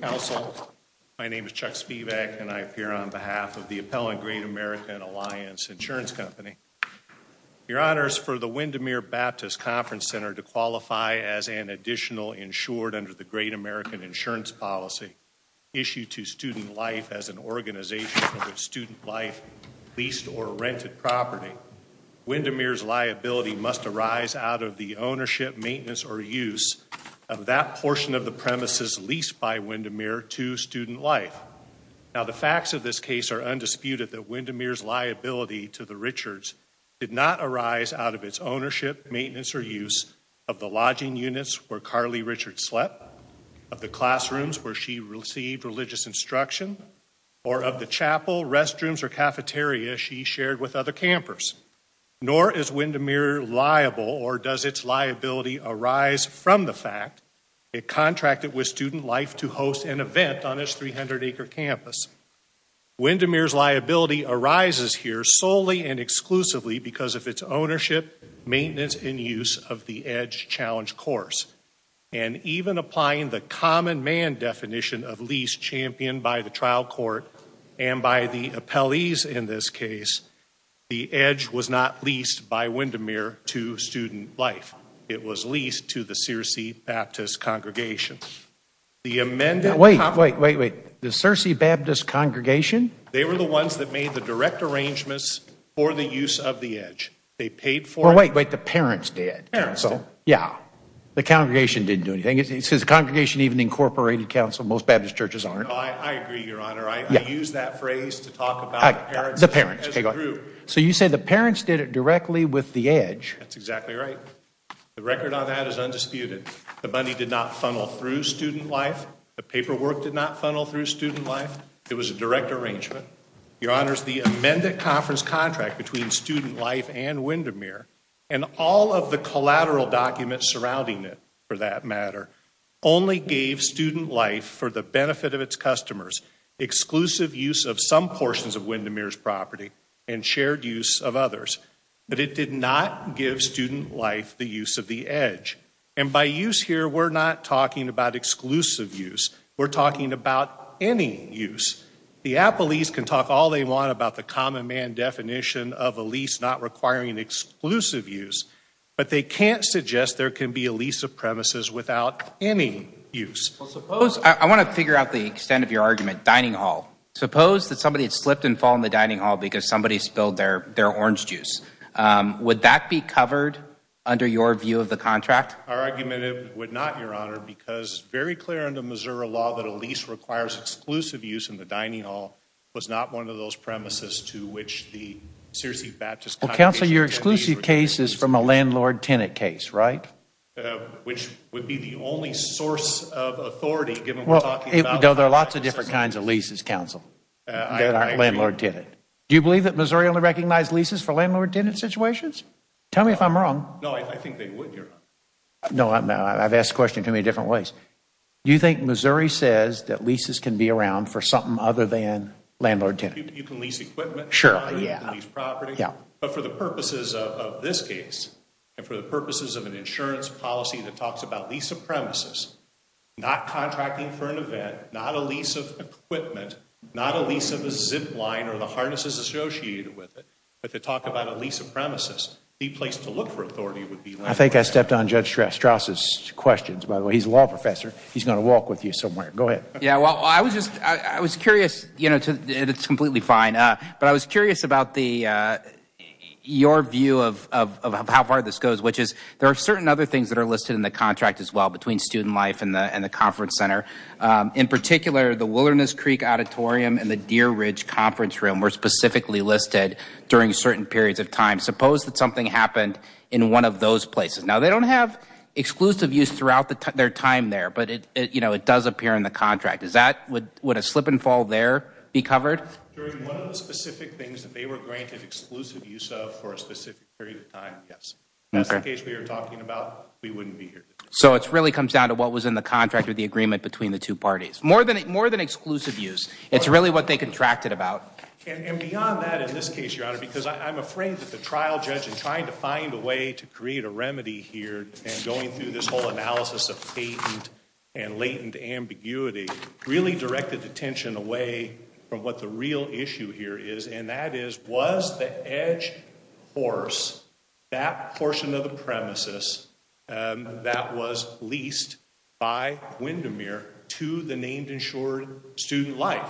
Council, my name is Chuck Spivak, and I appear on behalf of the appellant Great American Alliance Insurance Company. Your Honors, for the Windermere Baptist Conference Center to qualify as an additional insured under the Great American Insurance Policy, issued to Student Life as an organization of Student Life leased or rented property, Windermere's liability must arise out of the ownership, maintenance, or use of that portion of the premises leased by Windermere to Student Life. Now the facts of this case are undisputed that Windermere's liability to the Richards did not arise out of its ownership, maintenance, or use of the lodging units where Carly Richards slept, of the classrooms where she received religious instruction, or of the chapel, restrooms, or cafeteria she shared with other campers. Nor is Windermere liable or does its liability arise from the fact it contracted with Student Life to host an event on its 300-acre campus. Windermere's liability arises here solely and exclusively because of its ownership, maintenance, and use of the EDGE Challenge course. And even applying the common man definition of lease championed by the trial court and by the appellees in this case, the EDGE was not leased by Windermere to Student Life. It was leased to the Searcy Baptist Congregation. The amended- Wait, wait, wait. The Searcy Baptist Congregation? They paid for it? Well, wait, wait. The parents did. Parents did? Yeah. The congregation didn't do anything. It says the congregation even incorporated counsel. Most Baptist churches aren't. No, I agree, Your Honor. I use that phrase to talk about the parents as a group. So you say the parents did it directly with the EDGE? That's exactly right. The record on that is undisputed. The money did not funnel through Student Life. The paperwork did not funnel through Student Life. It was a direct arrangement. Your Honor, the amended conference contract between Student Life and Windermere and all of the collateral documents surrounding it, for that matter, only gave Student Life, for the benefit of its customers, exclusive use of some portions of Windermere's property and shared use of others. But it did not give Student Life the use of the EDGE. And by use here, we're not talking about exclusive use. We're talking about any use. The Appleese can talk all they want about the common man definition of a lease not requiring exclusive use, but they can't suggest there can be a lease of premises without any use. Well, suppose, I want to figure out the extent of your argument, dining hall. Suppose that somebody had slipped and fallen in the dining hall because somebody spilled their orange juice. Would that be covered under your view of the contract? Our argument would not, Your Honor, because it's very clear under Missouri law that a dining hall was not one of those premises to which the Sirius E. Baptist Convention of Tenancies would be exclusive. Well, counsel, your exclusive case is from a landlord-tenant case, right? Which would be the only source of authority, given we're talking about Well, there are lots of different kinds of leases, counsel, that aren't landlord-tenant. Do you believe that Missouri only recognized leases for landlord-tenant situations? Tell me if I'm wrong. No, I think they would, Your Honor. No, I've asked the question in too many different ways. Do you think Missouri says that leases can be around for something other than landlord-tenant? You can lease equipment. Sure, yeah. You can lease property. Yeah. But for the purposes of this case, and for the purposes of an insurance policy that talks about lease of premises, not contracting for an event, not a lease of equipment, not a lease of a zip line or the harnesses associated with it, but to talk about a lease of premises, the place to look for authority would be landlord-tenant. I think I stepped on Judge Straus' questions, by the way. He's a law professor. He's going to walk with you somewhere. Go ahead. Yeah, well, I was just, I was curious, you know, it's completely fine, but I was curious about the, your view of how far this goes, which is there are certain other things that are listed in the contract as well between Student Life and the Conference Center. In particular, the Wilderness Creek Auditorium and the Deer Ridge Conference Room were specifically listed during certain periods of time. Suppose that something happened in one of those places. Now, they don't have exclusive use throughout their time there, but it, you know, it does appear in the contract. Is that, would a slip and fall there be covered? During one of the specific things that they were granted exclusive use of for a specific period of time, yes. If that's the case we were talking about, we wouldn't be here. So it really comes down to what was in the contract or the agreement between the two parties. More than exclusive use. It's really what they contracted about. And beyond that, in this case, Your Honor, because I'm afraid that the trial judge in creating a remedy here and going through this whole analysis of patent and latent ambiguity really directed attention away from what the real issue here is. And that is, was the edge horse, that portion of the premises that was leased by Windermere to the named insured Student Life?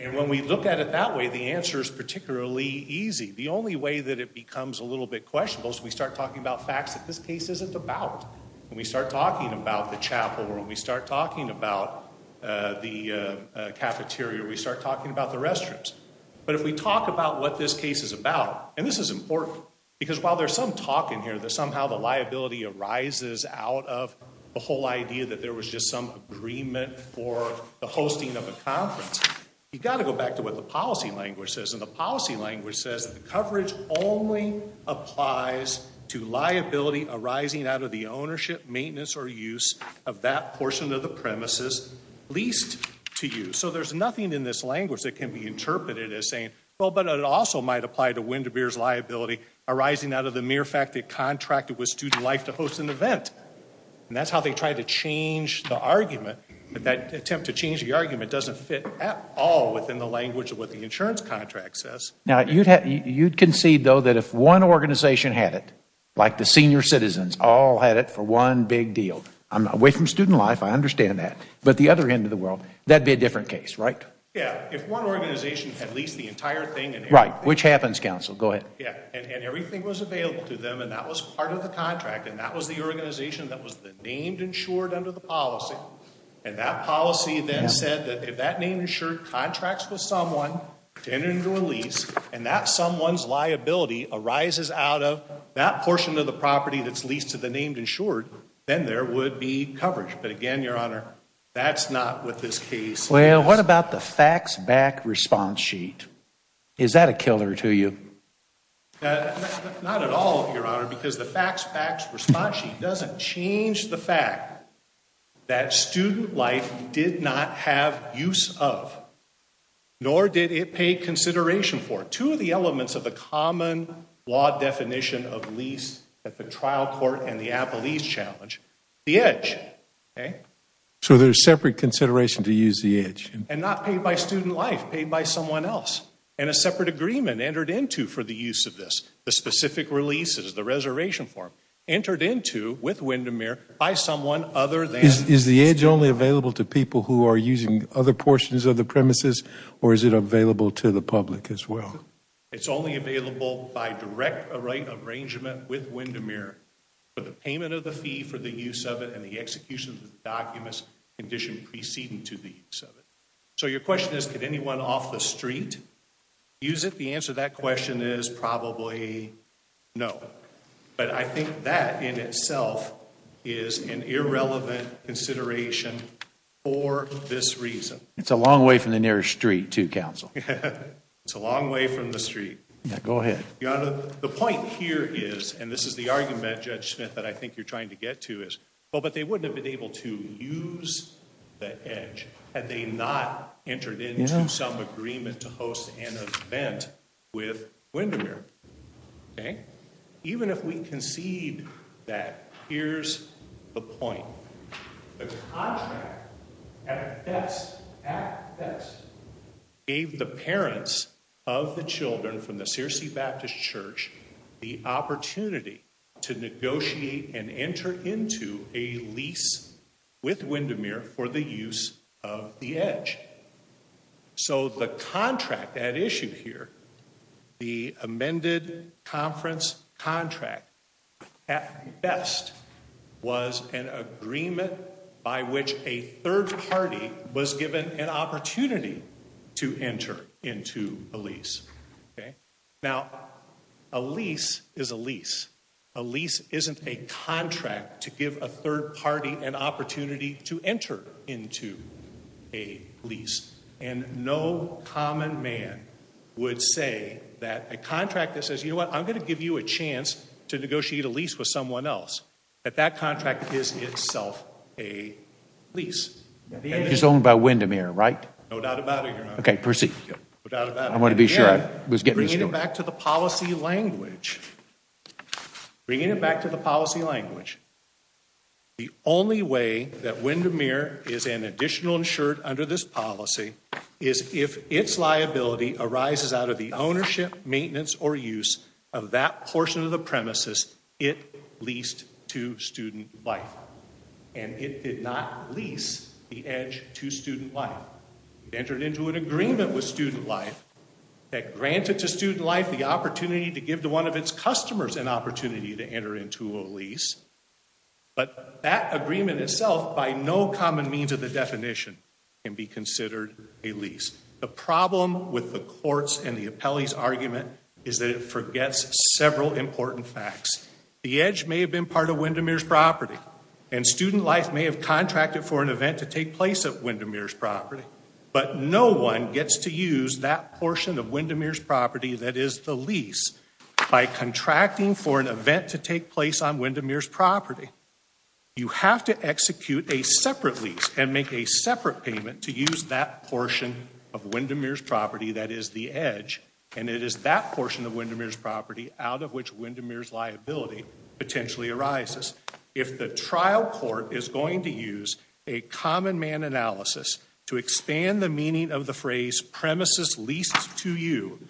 And when we look at it that way, the answer is particularly easy. The only way that it becomes a little bit questionable is if we start talking about facts that this case isn't about. When we start talking about the chapel or when we start talking about the cafeteria, we start talking about the restrooms. But if we talk about what this case is about, and this is important, because while there's some talk in here that somehow the liability arises out of the whole idea that there was just some agreement for the hosting of a conference, you've got to go back to what the policy language says. And the policy language says that the coverage only applies to liability arising out of the ownership, maintenance, or use of that portion of the premises leased to you. So there's nothing in this language that can be interpreted as saying, well, but it also might apply to Windermere's liability arising out of the mere fact that it contracted with Student Life to host an event. And that's how they tried to change the argument, but that attempt to change the argument doesn't fit at all within the language of what the insurance contract says. Now, you'd concede, though, that if one organization had it, like the senior citizens all had it for one big deal, I'm not away from Student Life, I understand that, but the other end of the world, that would be a different case, right? Yeah. If one organization had leased the entire thing. Right. Which happens, counsel. Go ahead. Yeah. And everything was available to them, and that was part of the contract, and that was the organization that was the named insured under the policy. And that policy then said that if that named insured contracts with someone to enter into a lease, and that someone's liability arises out of that portion of the property that's leased to the named insured, then there would be coverage. But again, Your Honor, that's not what this case is. Well, what about the facts back response sheet? Is that a killer to you? Not at all, Your Honor, because the facts back response sheet doesn't change the fact that Student Life did not have use of, nor did it pay consideration for, two of the elements of a common law definition of lease at the trial court and the Apple Ease Challenge, the edge. Okay? So there's separate consideration to use the edge. And not paid by Student Life, paid by someone else. And a separate agreement entered into for the use of this. The specific release is the reservation form, entered into with Windermere by someone other than... Is the edge only available to people who are using other portions of the premises, or is it available to the public as well? It's only available by direct right arrangement with Windermere for the payment of the fee for the use of it and the execution of the documents condition preceding to the use of it. So your question is, could anyone off the street use it? The answer to that question is probably no. But I think that in itself is an irrelevant consideration for this reason. It's a long way from the nearest street, too, counsel. It's a long way from the street. Yeah, go ahead. Your Honor, the point here is, and this is the argument, Judge Smith, that I think you're trying to get to is, well, but they wouldn't have been able to use the edge had they not entered into some agreement to host an event with Windermere. Even if we concede that, here's the point. The contract at best gave the parents of the children from the Searcy Baptist Church the So the contract at issue here, the amended conference contract, at best was an agreement by which a third party was given an opportunity to enter into a lease. Now a lease is a lease. A lease isn't a contract to give a third party an opportunity to enter into a lease. And no common man would say that a contract that says, you know what, I'm going to give you a chance to negotiate a lease with someone else, that that contract is itself a lease. It's owned by Windermere, right? No doubt about it, Your Honor. Okay, proceed. No doubt about it. I want to be sure I was getting this right. Bringing it back to the policy language, bringing it back to the policy language, the only way that Windermere is an additional insured under this policy is if its liability arises out of the ownership, maintenance, or use of that portion of the premises it leased to Student Life. And it did not lease the edge to Student Life. It entered into an agreement with Student Life that granted to Student Life the opportunity to give to one of its customers an opportunity to enter into a lease. But that agreement itself, by no common means of the definition, can be considered a lease. The problem with the court's and the appellee's argument is that it forgets several important facts. The edge may have been part of Windermere's property, and Student Life may have contracted for an event to take place at Windermere's property, but no one gets to use that portion of Windermere's property that is the lease by contracting for an event to take place on Windermere's property. You have to execute a separate lease and make a separate payment to use that portion of Windermere's property that is the edge, and it is that portion of Windermere's property out of which Windermere's liability potentially arises. If the trial court is going to use a common man analysis to expand the meaning of the phrase premises leased to you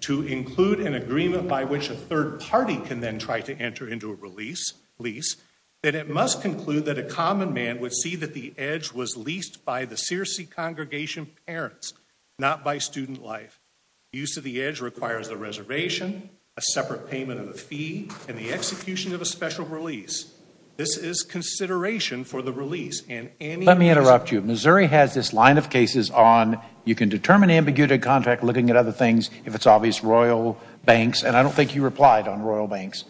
to include an agreement by which a third party can then try to enter into a lease, then it must conclude that a common man would see that the edge was leased by the Searcy congregation parents, not by Student Life. Use of the edge requires a reservation, a separate payment of a fee, and the execution of a special release. This is consideration for the release, and any... Let me interrupt you. Missouri has this line of cases on you can determine ambiguity contract looking at other things if it's obvious Royal Banks, and I don't think you replied on Royal Banks,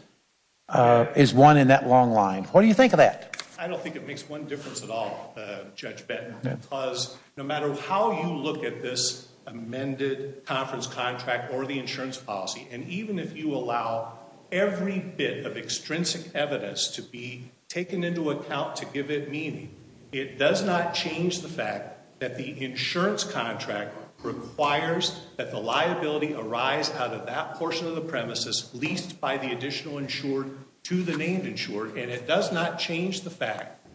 is one in that long line. What do you think of that? I don't think it makes one difference at all, Judge Benton, because no matter how you look at this amended conference contract or the insurance policy, and even if you allow every bit of extrinsic evidence to be taken into account to give it meaning, it does not change the fact that the insurance contract requires that the liability arise out of that portion of the premises leased by the additional insured to the named insured, and it does not change the fact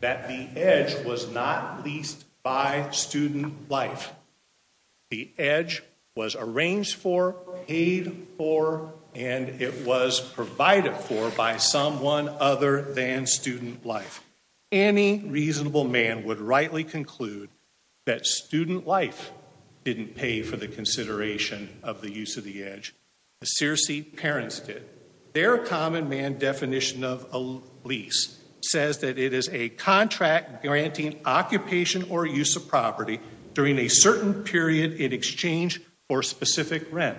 that the edge was not leased by Student Life. The edge was arranged for, paid for, and it was provided for by someone other than Student Life. Any reasonable man would rightly conclude that Student Life didn't pay for the consideration of the use of the edge. The Searcy parents did. Their common man definition of a lease says that it is a contract granting occupation or use of property during a certain period in exchange for specific rent.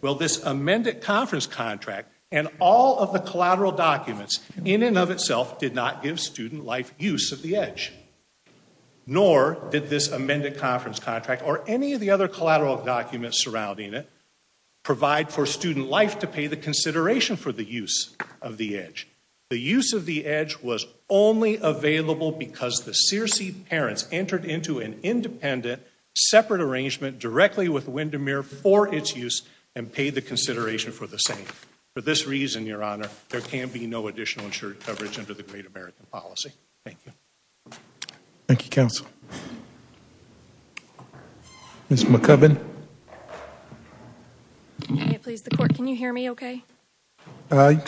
Well, this amended conference contract and all of the collateral documents in and of itself did not give Student Life use of the edge, nor did this amended conference contract or any of the other collateral documents surrounding it provide for Student Life to pay the consideration for the use of the edge. The use of the edge was only available because the Searcy parents entered into an independent separate arrangement directly with Windermere for its use and paid the consideration for the same. For this reason, Your Honor, there can be no additional insured coverage under the Great American Policy. Thank you. Thank you, Counsel. Ms. McCubbin?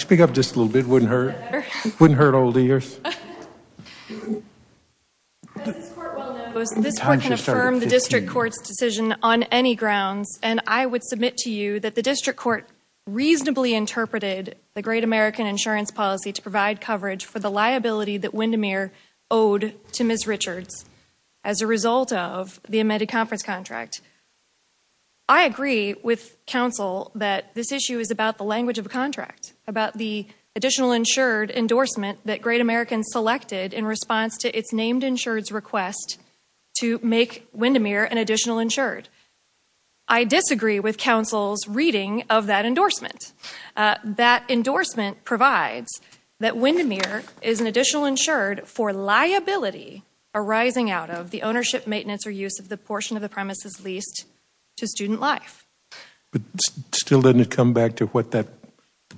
Speak up just a little bit. It wouldn't hurt. It wouldn't hurt old ears. As this Court well knows, this Court can affirm the District Court's decision on any grounds, and I would submit to you that the District Court reasonably interpreted the Great American Insurance Policy to provide coverage for the liability that Windermere owed to Ms. Richards as a result of the amended conference contract. I agree with Counsel that this issue is about the language of a contract, about the additional insured endorsement that Great American selected in response to its named insured's request to make Windermere an additional insured. I disagree with Counsel's reading of that endorsement. That endorsement provides that Windermere is an additional insured for liability arising out of the ownership, maintenance, or use of the portion of the premises leased to Student Life. But still doesn't it come back to what that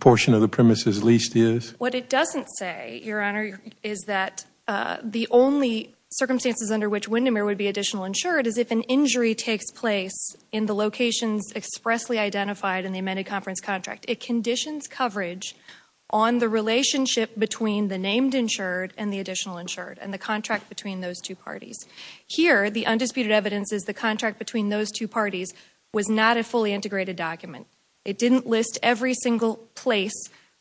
portion of the premises leased is? What it doesn't say, Your Honor, is that the only circumstances under which Windermere would be additional insured is if an injury takes place in the locations expressly identified in the amended conference contract. It conditions coverage on the relationship between the named insured and the additional insured and the contract between those two parties. Here the undisputed evidence is the contract between those two parties was not a fully integrated document. It didn't list every single place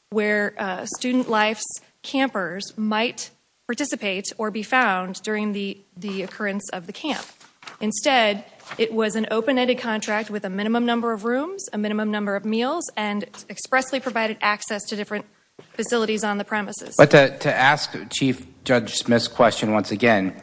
where Student Life's campers might participate or be found during the occurrence of the camp. Instead, it was an open-ended contract with a minimum number of rooms, a minimum number of meals, and expressly provided access to different facilities on the premises. To ask Chief Judge Smith's question once again,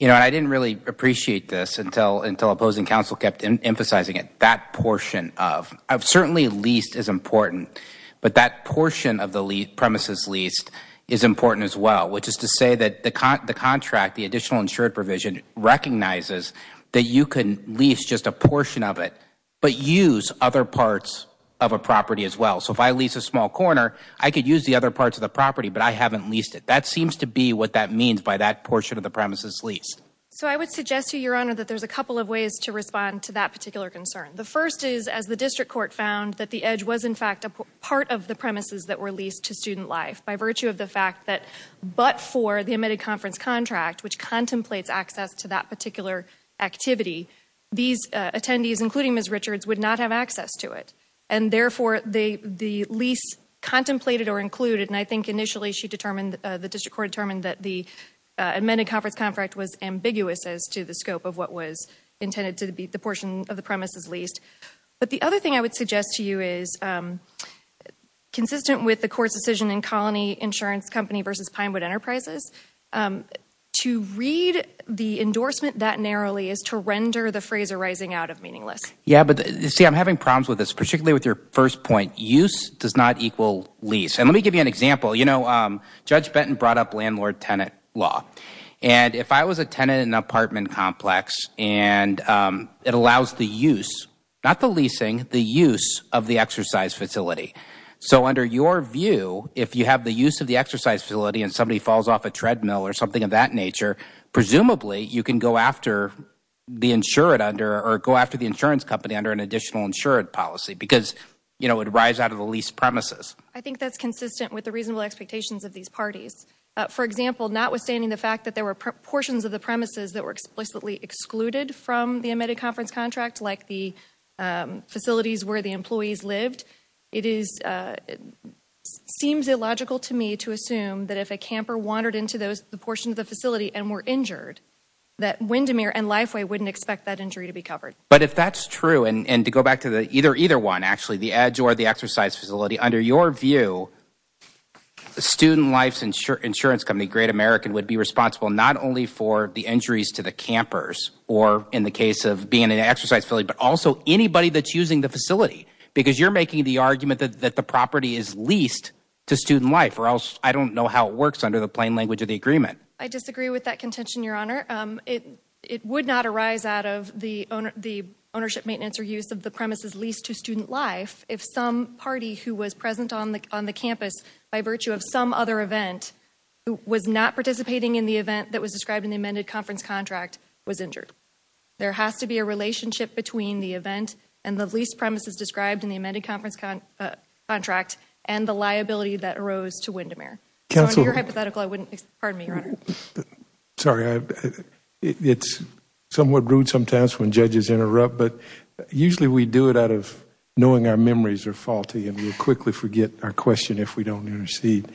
I didn't really appreciate this until opposing counsel kept emphasizing it. That portion of, certainly leased is important, but that portion of the premises leased is important as well. Which is to say that the contract, the additional insured provision, recognizes that you can lease just a portion of it, but use other parts of a property as well. So if I lease a small corner, I could use the other parts of the property, but I haven't leased it. That seems to be what that means by that portion of the premises leased. So I would suggest to you, Your Honor, that there's a couple of ways to respond to that particular concern. The first is, as the district court found, that the edge was in fact a part of the premises that were leased to Student Life by virtue of the fact that but for the amended conference contract, which contemplates access to that particular activity, these attendees, including Ms. Richards, would not have access to it. And therefore, the lease contemplated or included, and I think initially the district court determined that the amended conference contract was ambiguous as to the scope of what was intended to be the portion of the premises leased. But the other thing I would suggest to you is, consistent with the court's decision in Colony Insurance Company v. Pinewood Enterprises, to read the endorsement that narrowly is to render the phrase arising out of meaningless. Yeah, but see, I'm having problems with this, particularly with your first point. Use does not equal lease. And let me give you an example. You know, Judge Benton brought up landlord-tenant law. And if I was a tenant in an apartment complex and it allows the use, not the leasing, the use of the exercise facility. So under your view, if you have the use of the exercise facility and somebody falls off a treadmill or something of that nature, presumably you can go after the insured under or go after the insurance company under an additional insured policy because, you know, it arrives out of the leased premises. I think that's consistent with the reasonable expectations of these parties. For example, notwithstanding the fact that there were portions of the premises that were explicitly excluded from the amended conference contract, like the facilities where the employees lived, it seems illogical to me to assume that if a camper wandered into the portion of the facility and were injured, that Windermere and Lifeway wouldn't expect that injury to be covered. But if that's true, and to go back to either one, actually, the edge or the exercise facility, under your view, Student Life's insurance company, Great American, would be responsible not only for the injuries to the campers or in the case of being in an exercise facility, but also anybody that's using the facility. Because you're making the argument that the property is leased to Student Life or else I don't know how it works under the plain language of the agreement. I disagree with that contention, Your Honor. It would not arise out of the ownership, maintenance, or use of the premises leased to Student Life if some party who was present on the campus by virtue of some other event was not participating in the event that was described in the amended conference contract was injured. There has to be a relationship between the event and the leased premises described in the amended conference contract and the liability that arose to Windermere. So in your hypothetical, I wouldn't, pardon me, Your Honor. Sorry, it's somewhat rude sometimes when judges interrupt, but usually we do it out of knowing our memories are faulty and we'll quickly forget our question if we don't intercede.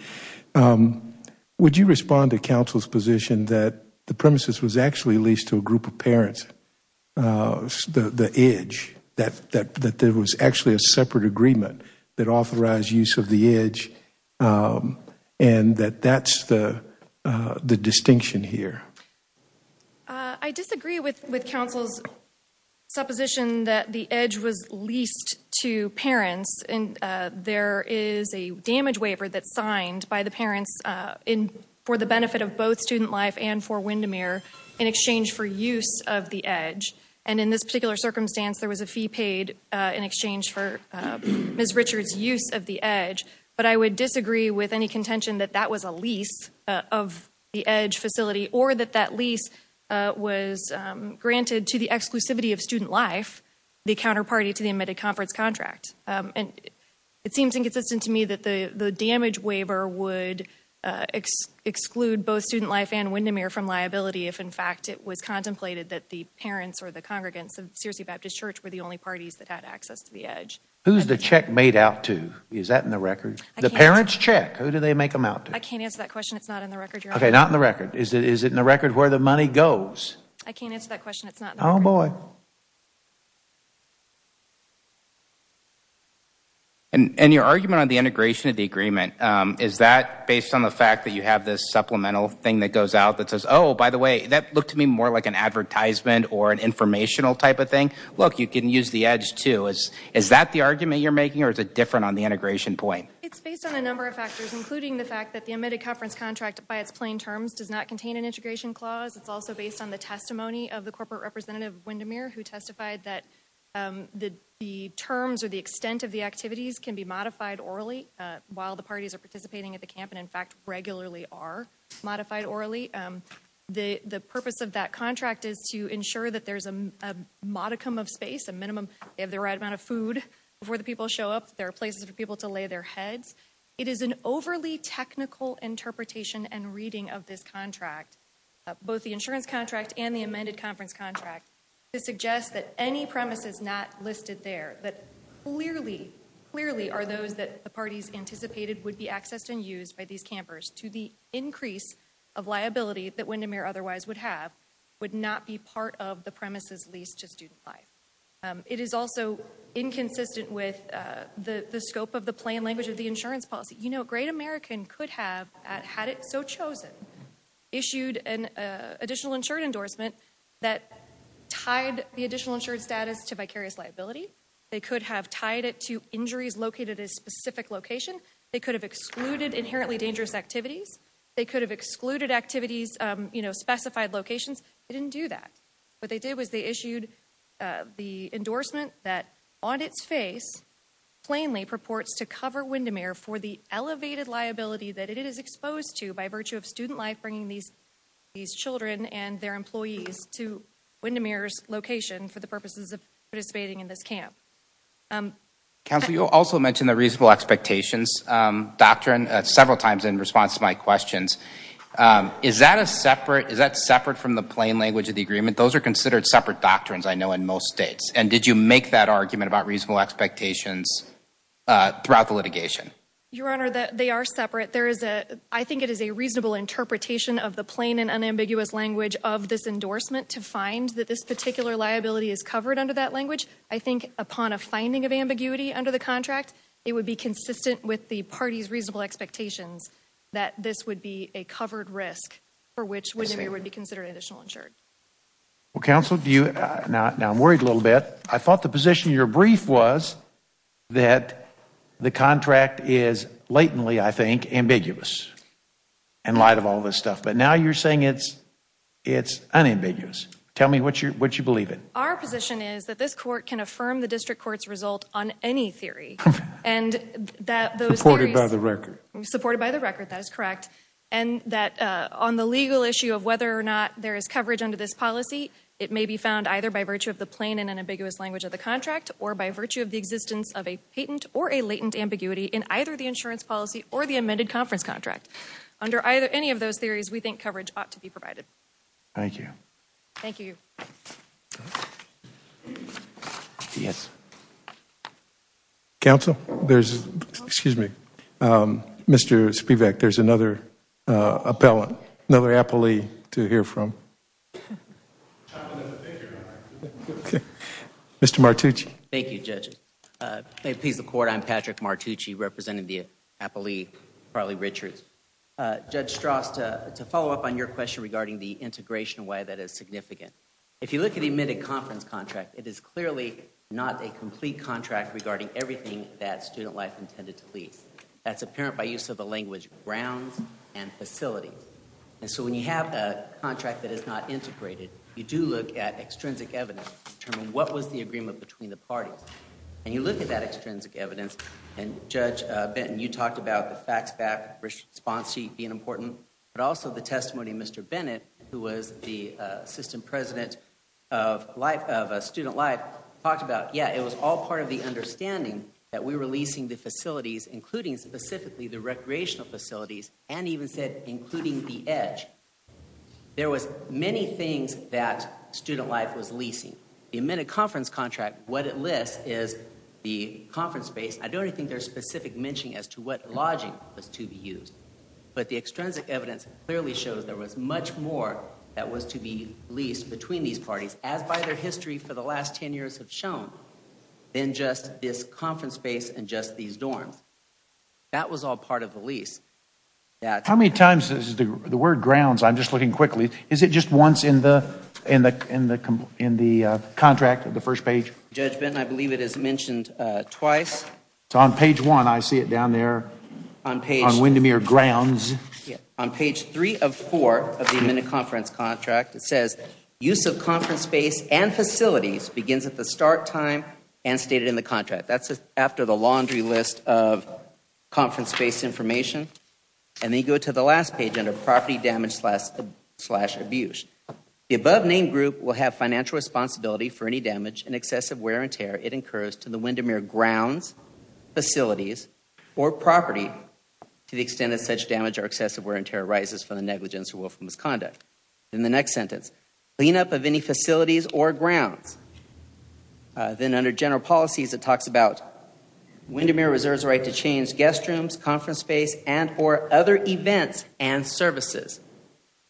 Would you respond to counsel's position that the premises was actually leased to a group of parents, the edge, that there was actually a separate agreement that authorized use of the edge, and that that's the distinction here? I disagree with counsel's supposition that the edge was leased to parents. There is a damage waiver that's signed by the parents for the benefit of both Student Life and for Windermere in exchange for use of the edge, and in this particular circumstance there was a fee paid in exchange for Ms. Richards' use of the edge, but I would disagree with any contention that that was a lease of the edge facility or that that lease was granted to the exclusivity of Student Life, the counterparty to the amended conference contract. It seems inconsistent to me that the damage waiver would exclude both Student Life and Windermere from liability if, in fact, it was contemplated that the parents or the congregants of Searcy Baptist Church were the only parties that had access to the edge. Who's the check made out to? Is that in the record? The parents' check. Who do they make them out to? I can't answer that question. It's not in the record, Your Honor. Okay, not in the record. Is it in the record where the money goes? I can't answer that question. It's not in the record. Oh, boy. And your argument on the integration of the agreement, is that based on the fact that you have this supplemental thing that goes out that says, oh, by the way, that looked to me more like an advertisement or an informational type of thing. Look, you can use the edge, too. Is that the argument you're making or is it different on the integration point? It's based on a number of factors, including the fact that the amended conference contract by its plain terms does not contain an integration clause. It's also based on the testimony of the corporate representative of Windermere who testified that the terms or the extent of the activities can be modified orally while the parties are participating at the camp and, in fact, regularly are modified orally. The purpose of that contract is to ensure that there's a modicum of space, a minimum they have the right amount of food before the people show up, there are places for people to lay their heads. It is an overly technical interpretation and reading of this contract, both the insurance contract and the amended conference contract, to suggest that any premises not listed there that clearly, clearly are those that the parties anticipated would be accessed and used by these campers to the increase of liability that Windermere otherwise would have would not be part of the premises leased to Student Life. It is also inconsistent with the scope of the plain language of the insurance policy. You know, a great American could have, had it so chosen, issued an additional insured endorsement that tied the additional insured status to vicarious liability. They could have tied it to injuries located at a specific location. They could have excluded inherently dangerous activities. They could have excluded activities, you know, specified locations. They didn't do that. What they did was they issued the endorsement that, on its face, plainly purports to cover Windermere for the elevated liability that it is exposed to by virtue of Student Life bringing these children and their employees to Windermere's location for the purposes of participating in this camp. Counsel, you also mentioned the reasonable expectations doctrine several times in response to my questions. Is that separate from the plain language of the agreement? Those are considered separate doctrines, I know, in most states. And did you make that argument about reasonable expectations throughout the litigation? Your Honor, they are separate. I think it is a reasonable interpretation of the plain and unambiguous language of this endorsement to find that this particular liability is covered under that language. I think upon a finding of ambiguity under the contract, it would be consistent with the party's reasonable expectations that this would be a covered risk for which Windermere would be considered additional insured. Well, Counsel, now I'm worried a little bit. I thought the position in your brief was that the contract is blatantly, I think, ambiguous in light of all this stuff. But now you're saying it's unambiguous. Tell me what you believe in. Our position is that this court can affirm the district court's result on any theory. And that those theories... Supported by the record. Supported by the record, that is correct. And that on the legal issue of whether or not there is coverage under this policy, it may be found either by virtue of the plain and unambiguous language of the contract or by virtue of the existence of a patent or a latent ambiguity in either the insurance policy or the amended conference contract. Under any of those theories, we think coverage ought to be provided. Thank you. Thank you. Thank you. Thank you. Thank you. Thank you. Thank you. Thank you. Thank you. Counsel, there's... Excuse me. Mr. Spivak, there's another appellant, another appellee to hear from. Mr. Martucci. Thank you, Judge. May it please the Court, I'm Patrick Martucci, representing the appellee, Carly Richards. Judge Strauss, to follow up on your question regarding the integration way that is significant, if you look at the amended conference contract, it is clearly not a complete contract regarding everything that Student Life intended to lease. That's apparent by use of the language grounds and facilities. And so when you have a contract that is not integrated, you do look at extrinsic evidence to determine what was the agreement between the parties. And you look at that extrinsic evidence, and Judge Benton, you talked about the facts back response sheet being important, but also the testimony of Mr. Bennett, who was the assistant president of Student Life, talked about, yeah, it was all part of the understanding that we were leasing the facilities, including specifically the recreational facilities, and even said, including the EDGE. There was many things that Student Life was leasing. The amended conference contract, what it lists is the conference space. I don't think there's specific mentioning as to what lodging was to be used. But the extrinsic evidence clearly shows there was much more that was to be leased between these parties, as by their history for the last 10 years have shown, than just this conference space and just these dorms. That was all part of the lease. How many times, the word grounds, I'm just looking quickly, is it just once in the contract, the first page? Judge Benton, I believe it is mentioned twice. On page one, I see it down there on Windermere grounds. On page three of four of the amended conference contract, it says, use of conference space and facilities begins at the start time and stated in the contract. That's after the laundry list of conference space information. And then you go to the last page under property damage slash abuse. The above name group will have financial responsibility for any damage and excessive wear and tear it incurs to the Windermere grounds, facilities, or property to the extent that such damage or excessive wear and tear arises from the negligence or willful misconduct. In the next sentence, cleanup of any facilities or grounds. Then under general policies, it talks about Windermere reserves the right to change guest rooms, conference space, and or other events and services.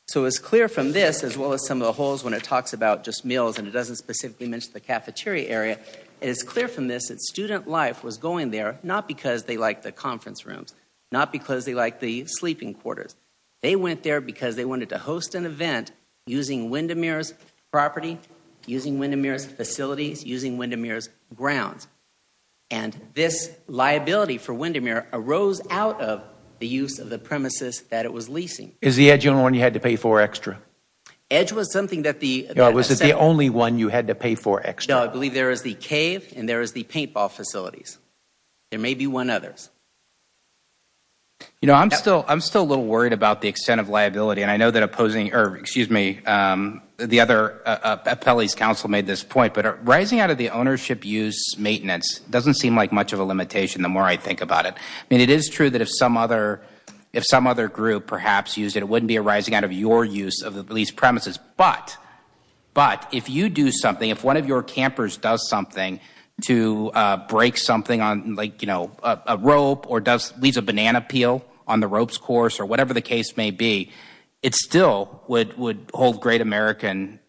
So it's clear from this, as well as some of the holes when it talks about just meals and it doesn't specifically mention the cafeteria area, it is clear from this that Student Life was going there not because they like the conference rooms, not because they like the sleeping quarters. They went there because they wanted to host an event using Windermere's property, using Windermere's facilities, using Windermere's grounds. And this liability for Windermere arose out of the use of the premises that it was leasing. Is the Edge the only one you had to pay for extra? Edge was something that the Yeah, was it the only one you had to pay for extra? No, I believe there is the cave and there is the paintball facilities. There may be one others. You know, I'm still a little worried about the extent of liability and I know that opposing or excuse me, the other appellee's counsel made this point, but rising out of the ownership use maintenance doesn't seem like much of a limitation the more I think about it. I mean, it is true that if some other group perhaps used it, it wouldn't be arising out of your use of these premises, but if you do something, if one of your campers does something to break something on a rope or leaves a banana peel on the rope's course or whatever the case may be, it still would hold Great American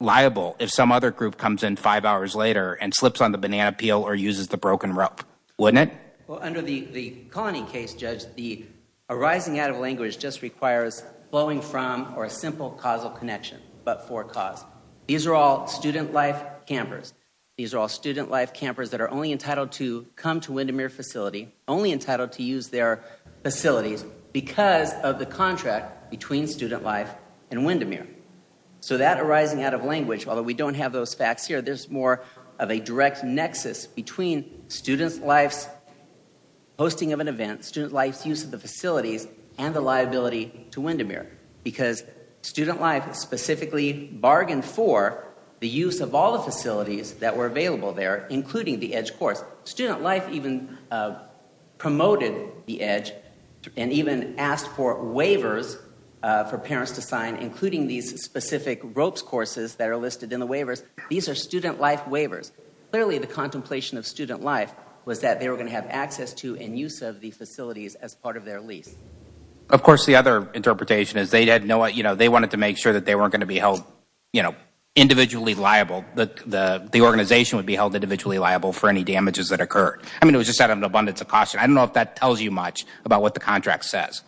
liable if some other group comes in five hours later and slips on the banana peel or uses the broken rope, wouldn't it? Well, under the colony case, Judge, the arising out of language just requires blowing from or a simple causal connection, but for cause. These are all student life campers. These are all student life campers that are only entitled to come to Windermere facility only entitled to use their facilities because of the contract between student life and Windermere. So that arising out of language, although we don't have those facts here, there's more of a direct nexus between student life's hosting of an event, student life's use of the facilities and the liability to Windermere because student life specifically bargained for the use of all the facilities that were available there, including the EDGE course. Student life even promoted the EDGE and even asked for waivers for parents to sign, including these specific ropes courses that are listed in the waivers. These are student life waivers. Clearly, the contemplation of student life was that they were going to have access to and use of the facilities as part of their lease. Of course, the other interpretation is they wanted to make sure that they weren't going to be held individually liable, that the organization would be held individually liable for any damages that occurred. I mean, it was just out of an abundance of caution. I don't know if that tells you much about what the contract says.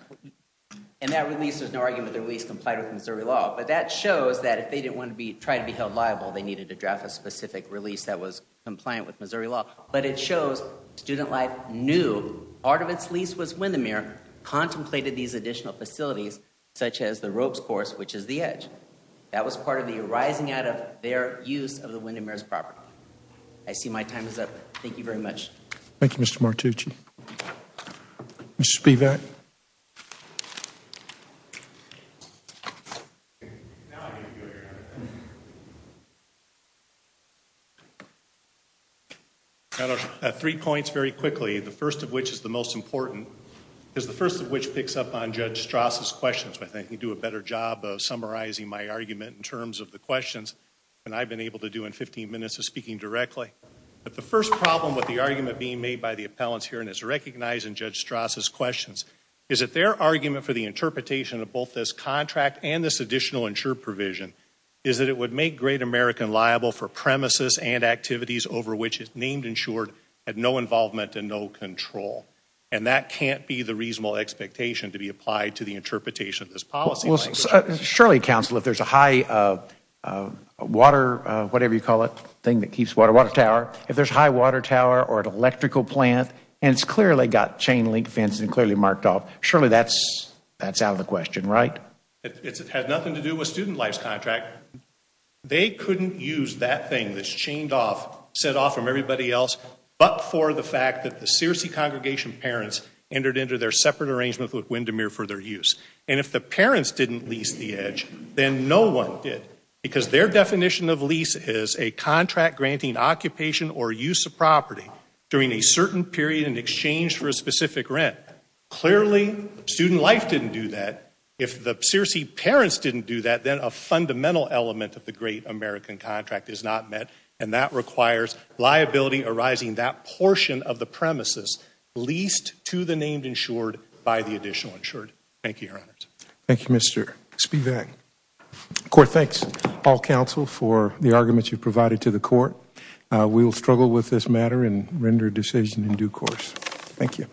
And that release, there's no argument that the release complied with Missouri law, but that shows that if they didn't want to try to be held liable, they needed to draft a specific release that was compliant with Missouri law. But it shows student life knew part of its lease was Windermere, contemplated these additional facilities, such as the ropes course, which is the EDGE. That was part of the arising out of their use of the Windermere's property. I see my time is up. Thank you very much. Thank you, Mr. Martucci. Mr. Spivak. I have three points very quickly, the first of which is the most important, is the first of which picks up on Judge Strasse's questions. I think he'd do a better job of summarizing my argument in terms of the questions than I've been able to do in 15 minutes of speaking directly. But the first problem with the argument being made by the appellants here and is recognizing Judge Strasse's questions, is that their argument for the interpretation of both this contract and this additional insured provision is that it would make Great American liable for premises and activities over which it's named insured had no involvement and no control. And that can't be the reasonable expectation to be applied to the interpretation of this policy language. Well, surely, counsel, if there's a high water, whatever you call it, thing that keeps water, water tower, if there's high water tower or an electrical plant, and it's clearly got a chain link fence and clearly marked off, surely that's out of the question, right? It has nothing to do with Student Life's contract. They couldn't use that thing that's chained off, set off from everybody else, but for the fact that the Searcy congregation parents entered into their separate arrangement with Windermere for their use. And if the parents didn't lease the edge, then no one did, because their definition of lease is a contract granting occupation or use of property during a certain period in exchange for a specific rent. Clearly Student Life didn't do that. If the Searcy parents didn't do that, then a fundamental element of the Great American contract is not met, and that requires liability arising that portion of the premises leased to the named insured by the additional insured. Thank you, Your Honors. Thank you, Mr. Spivak. Court, thanks all counsel for the arguments you've provided to the Court. We'll struggle with this matter and render a decision in due course. Thank you.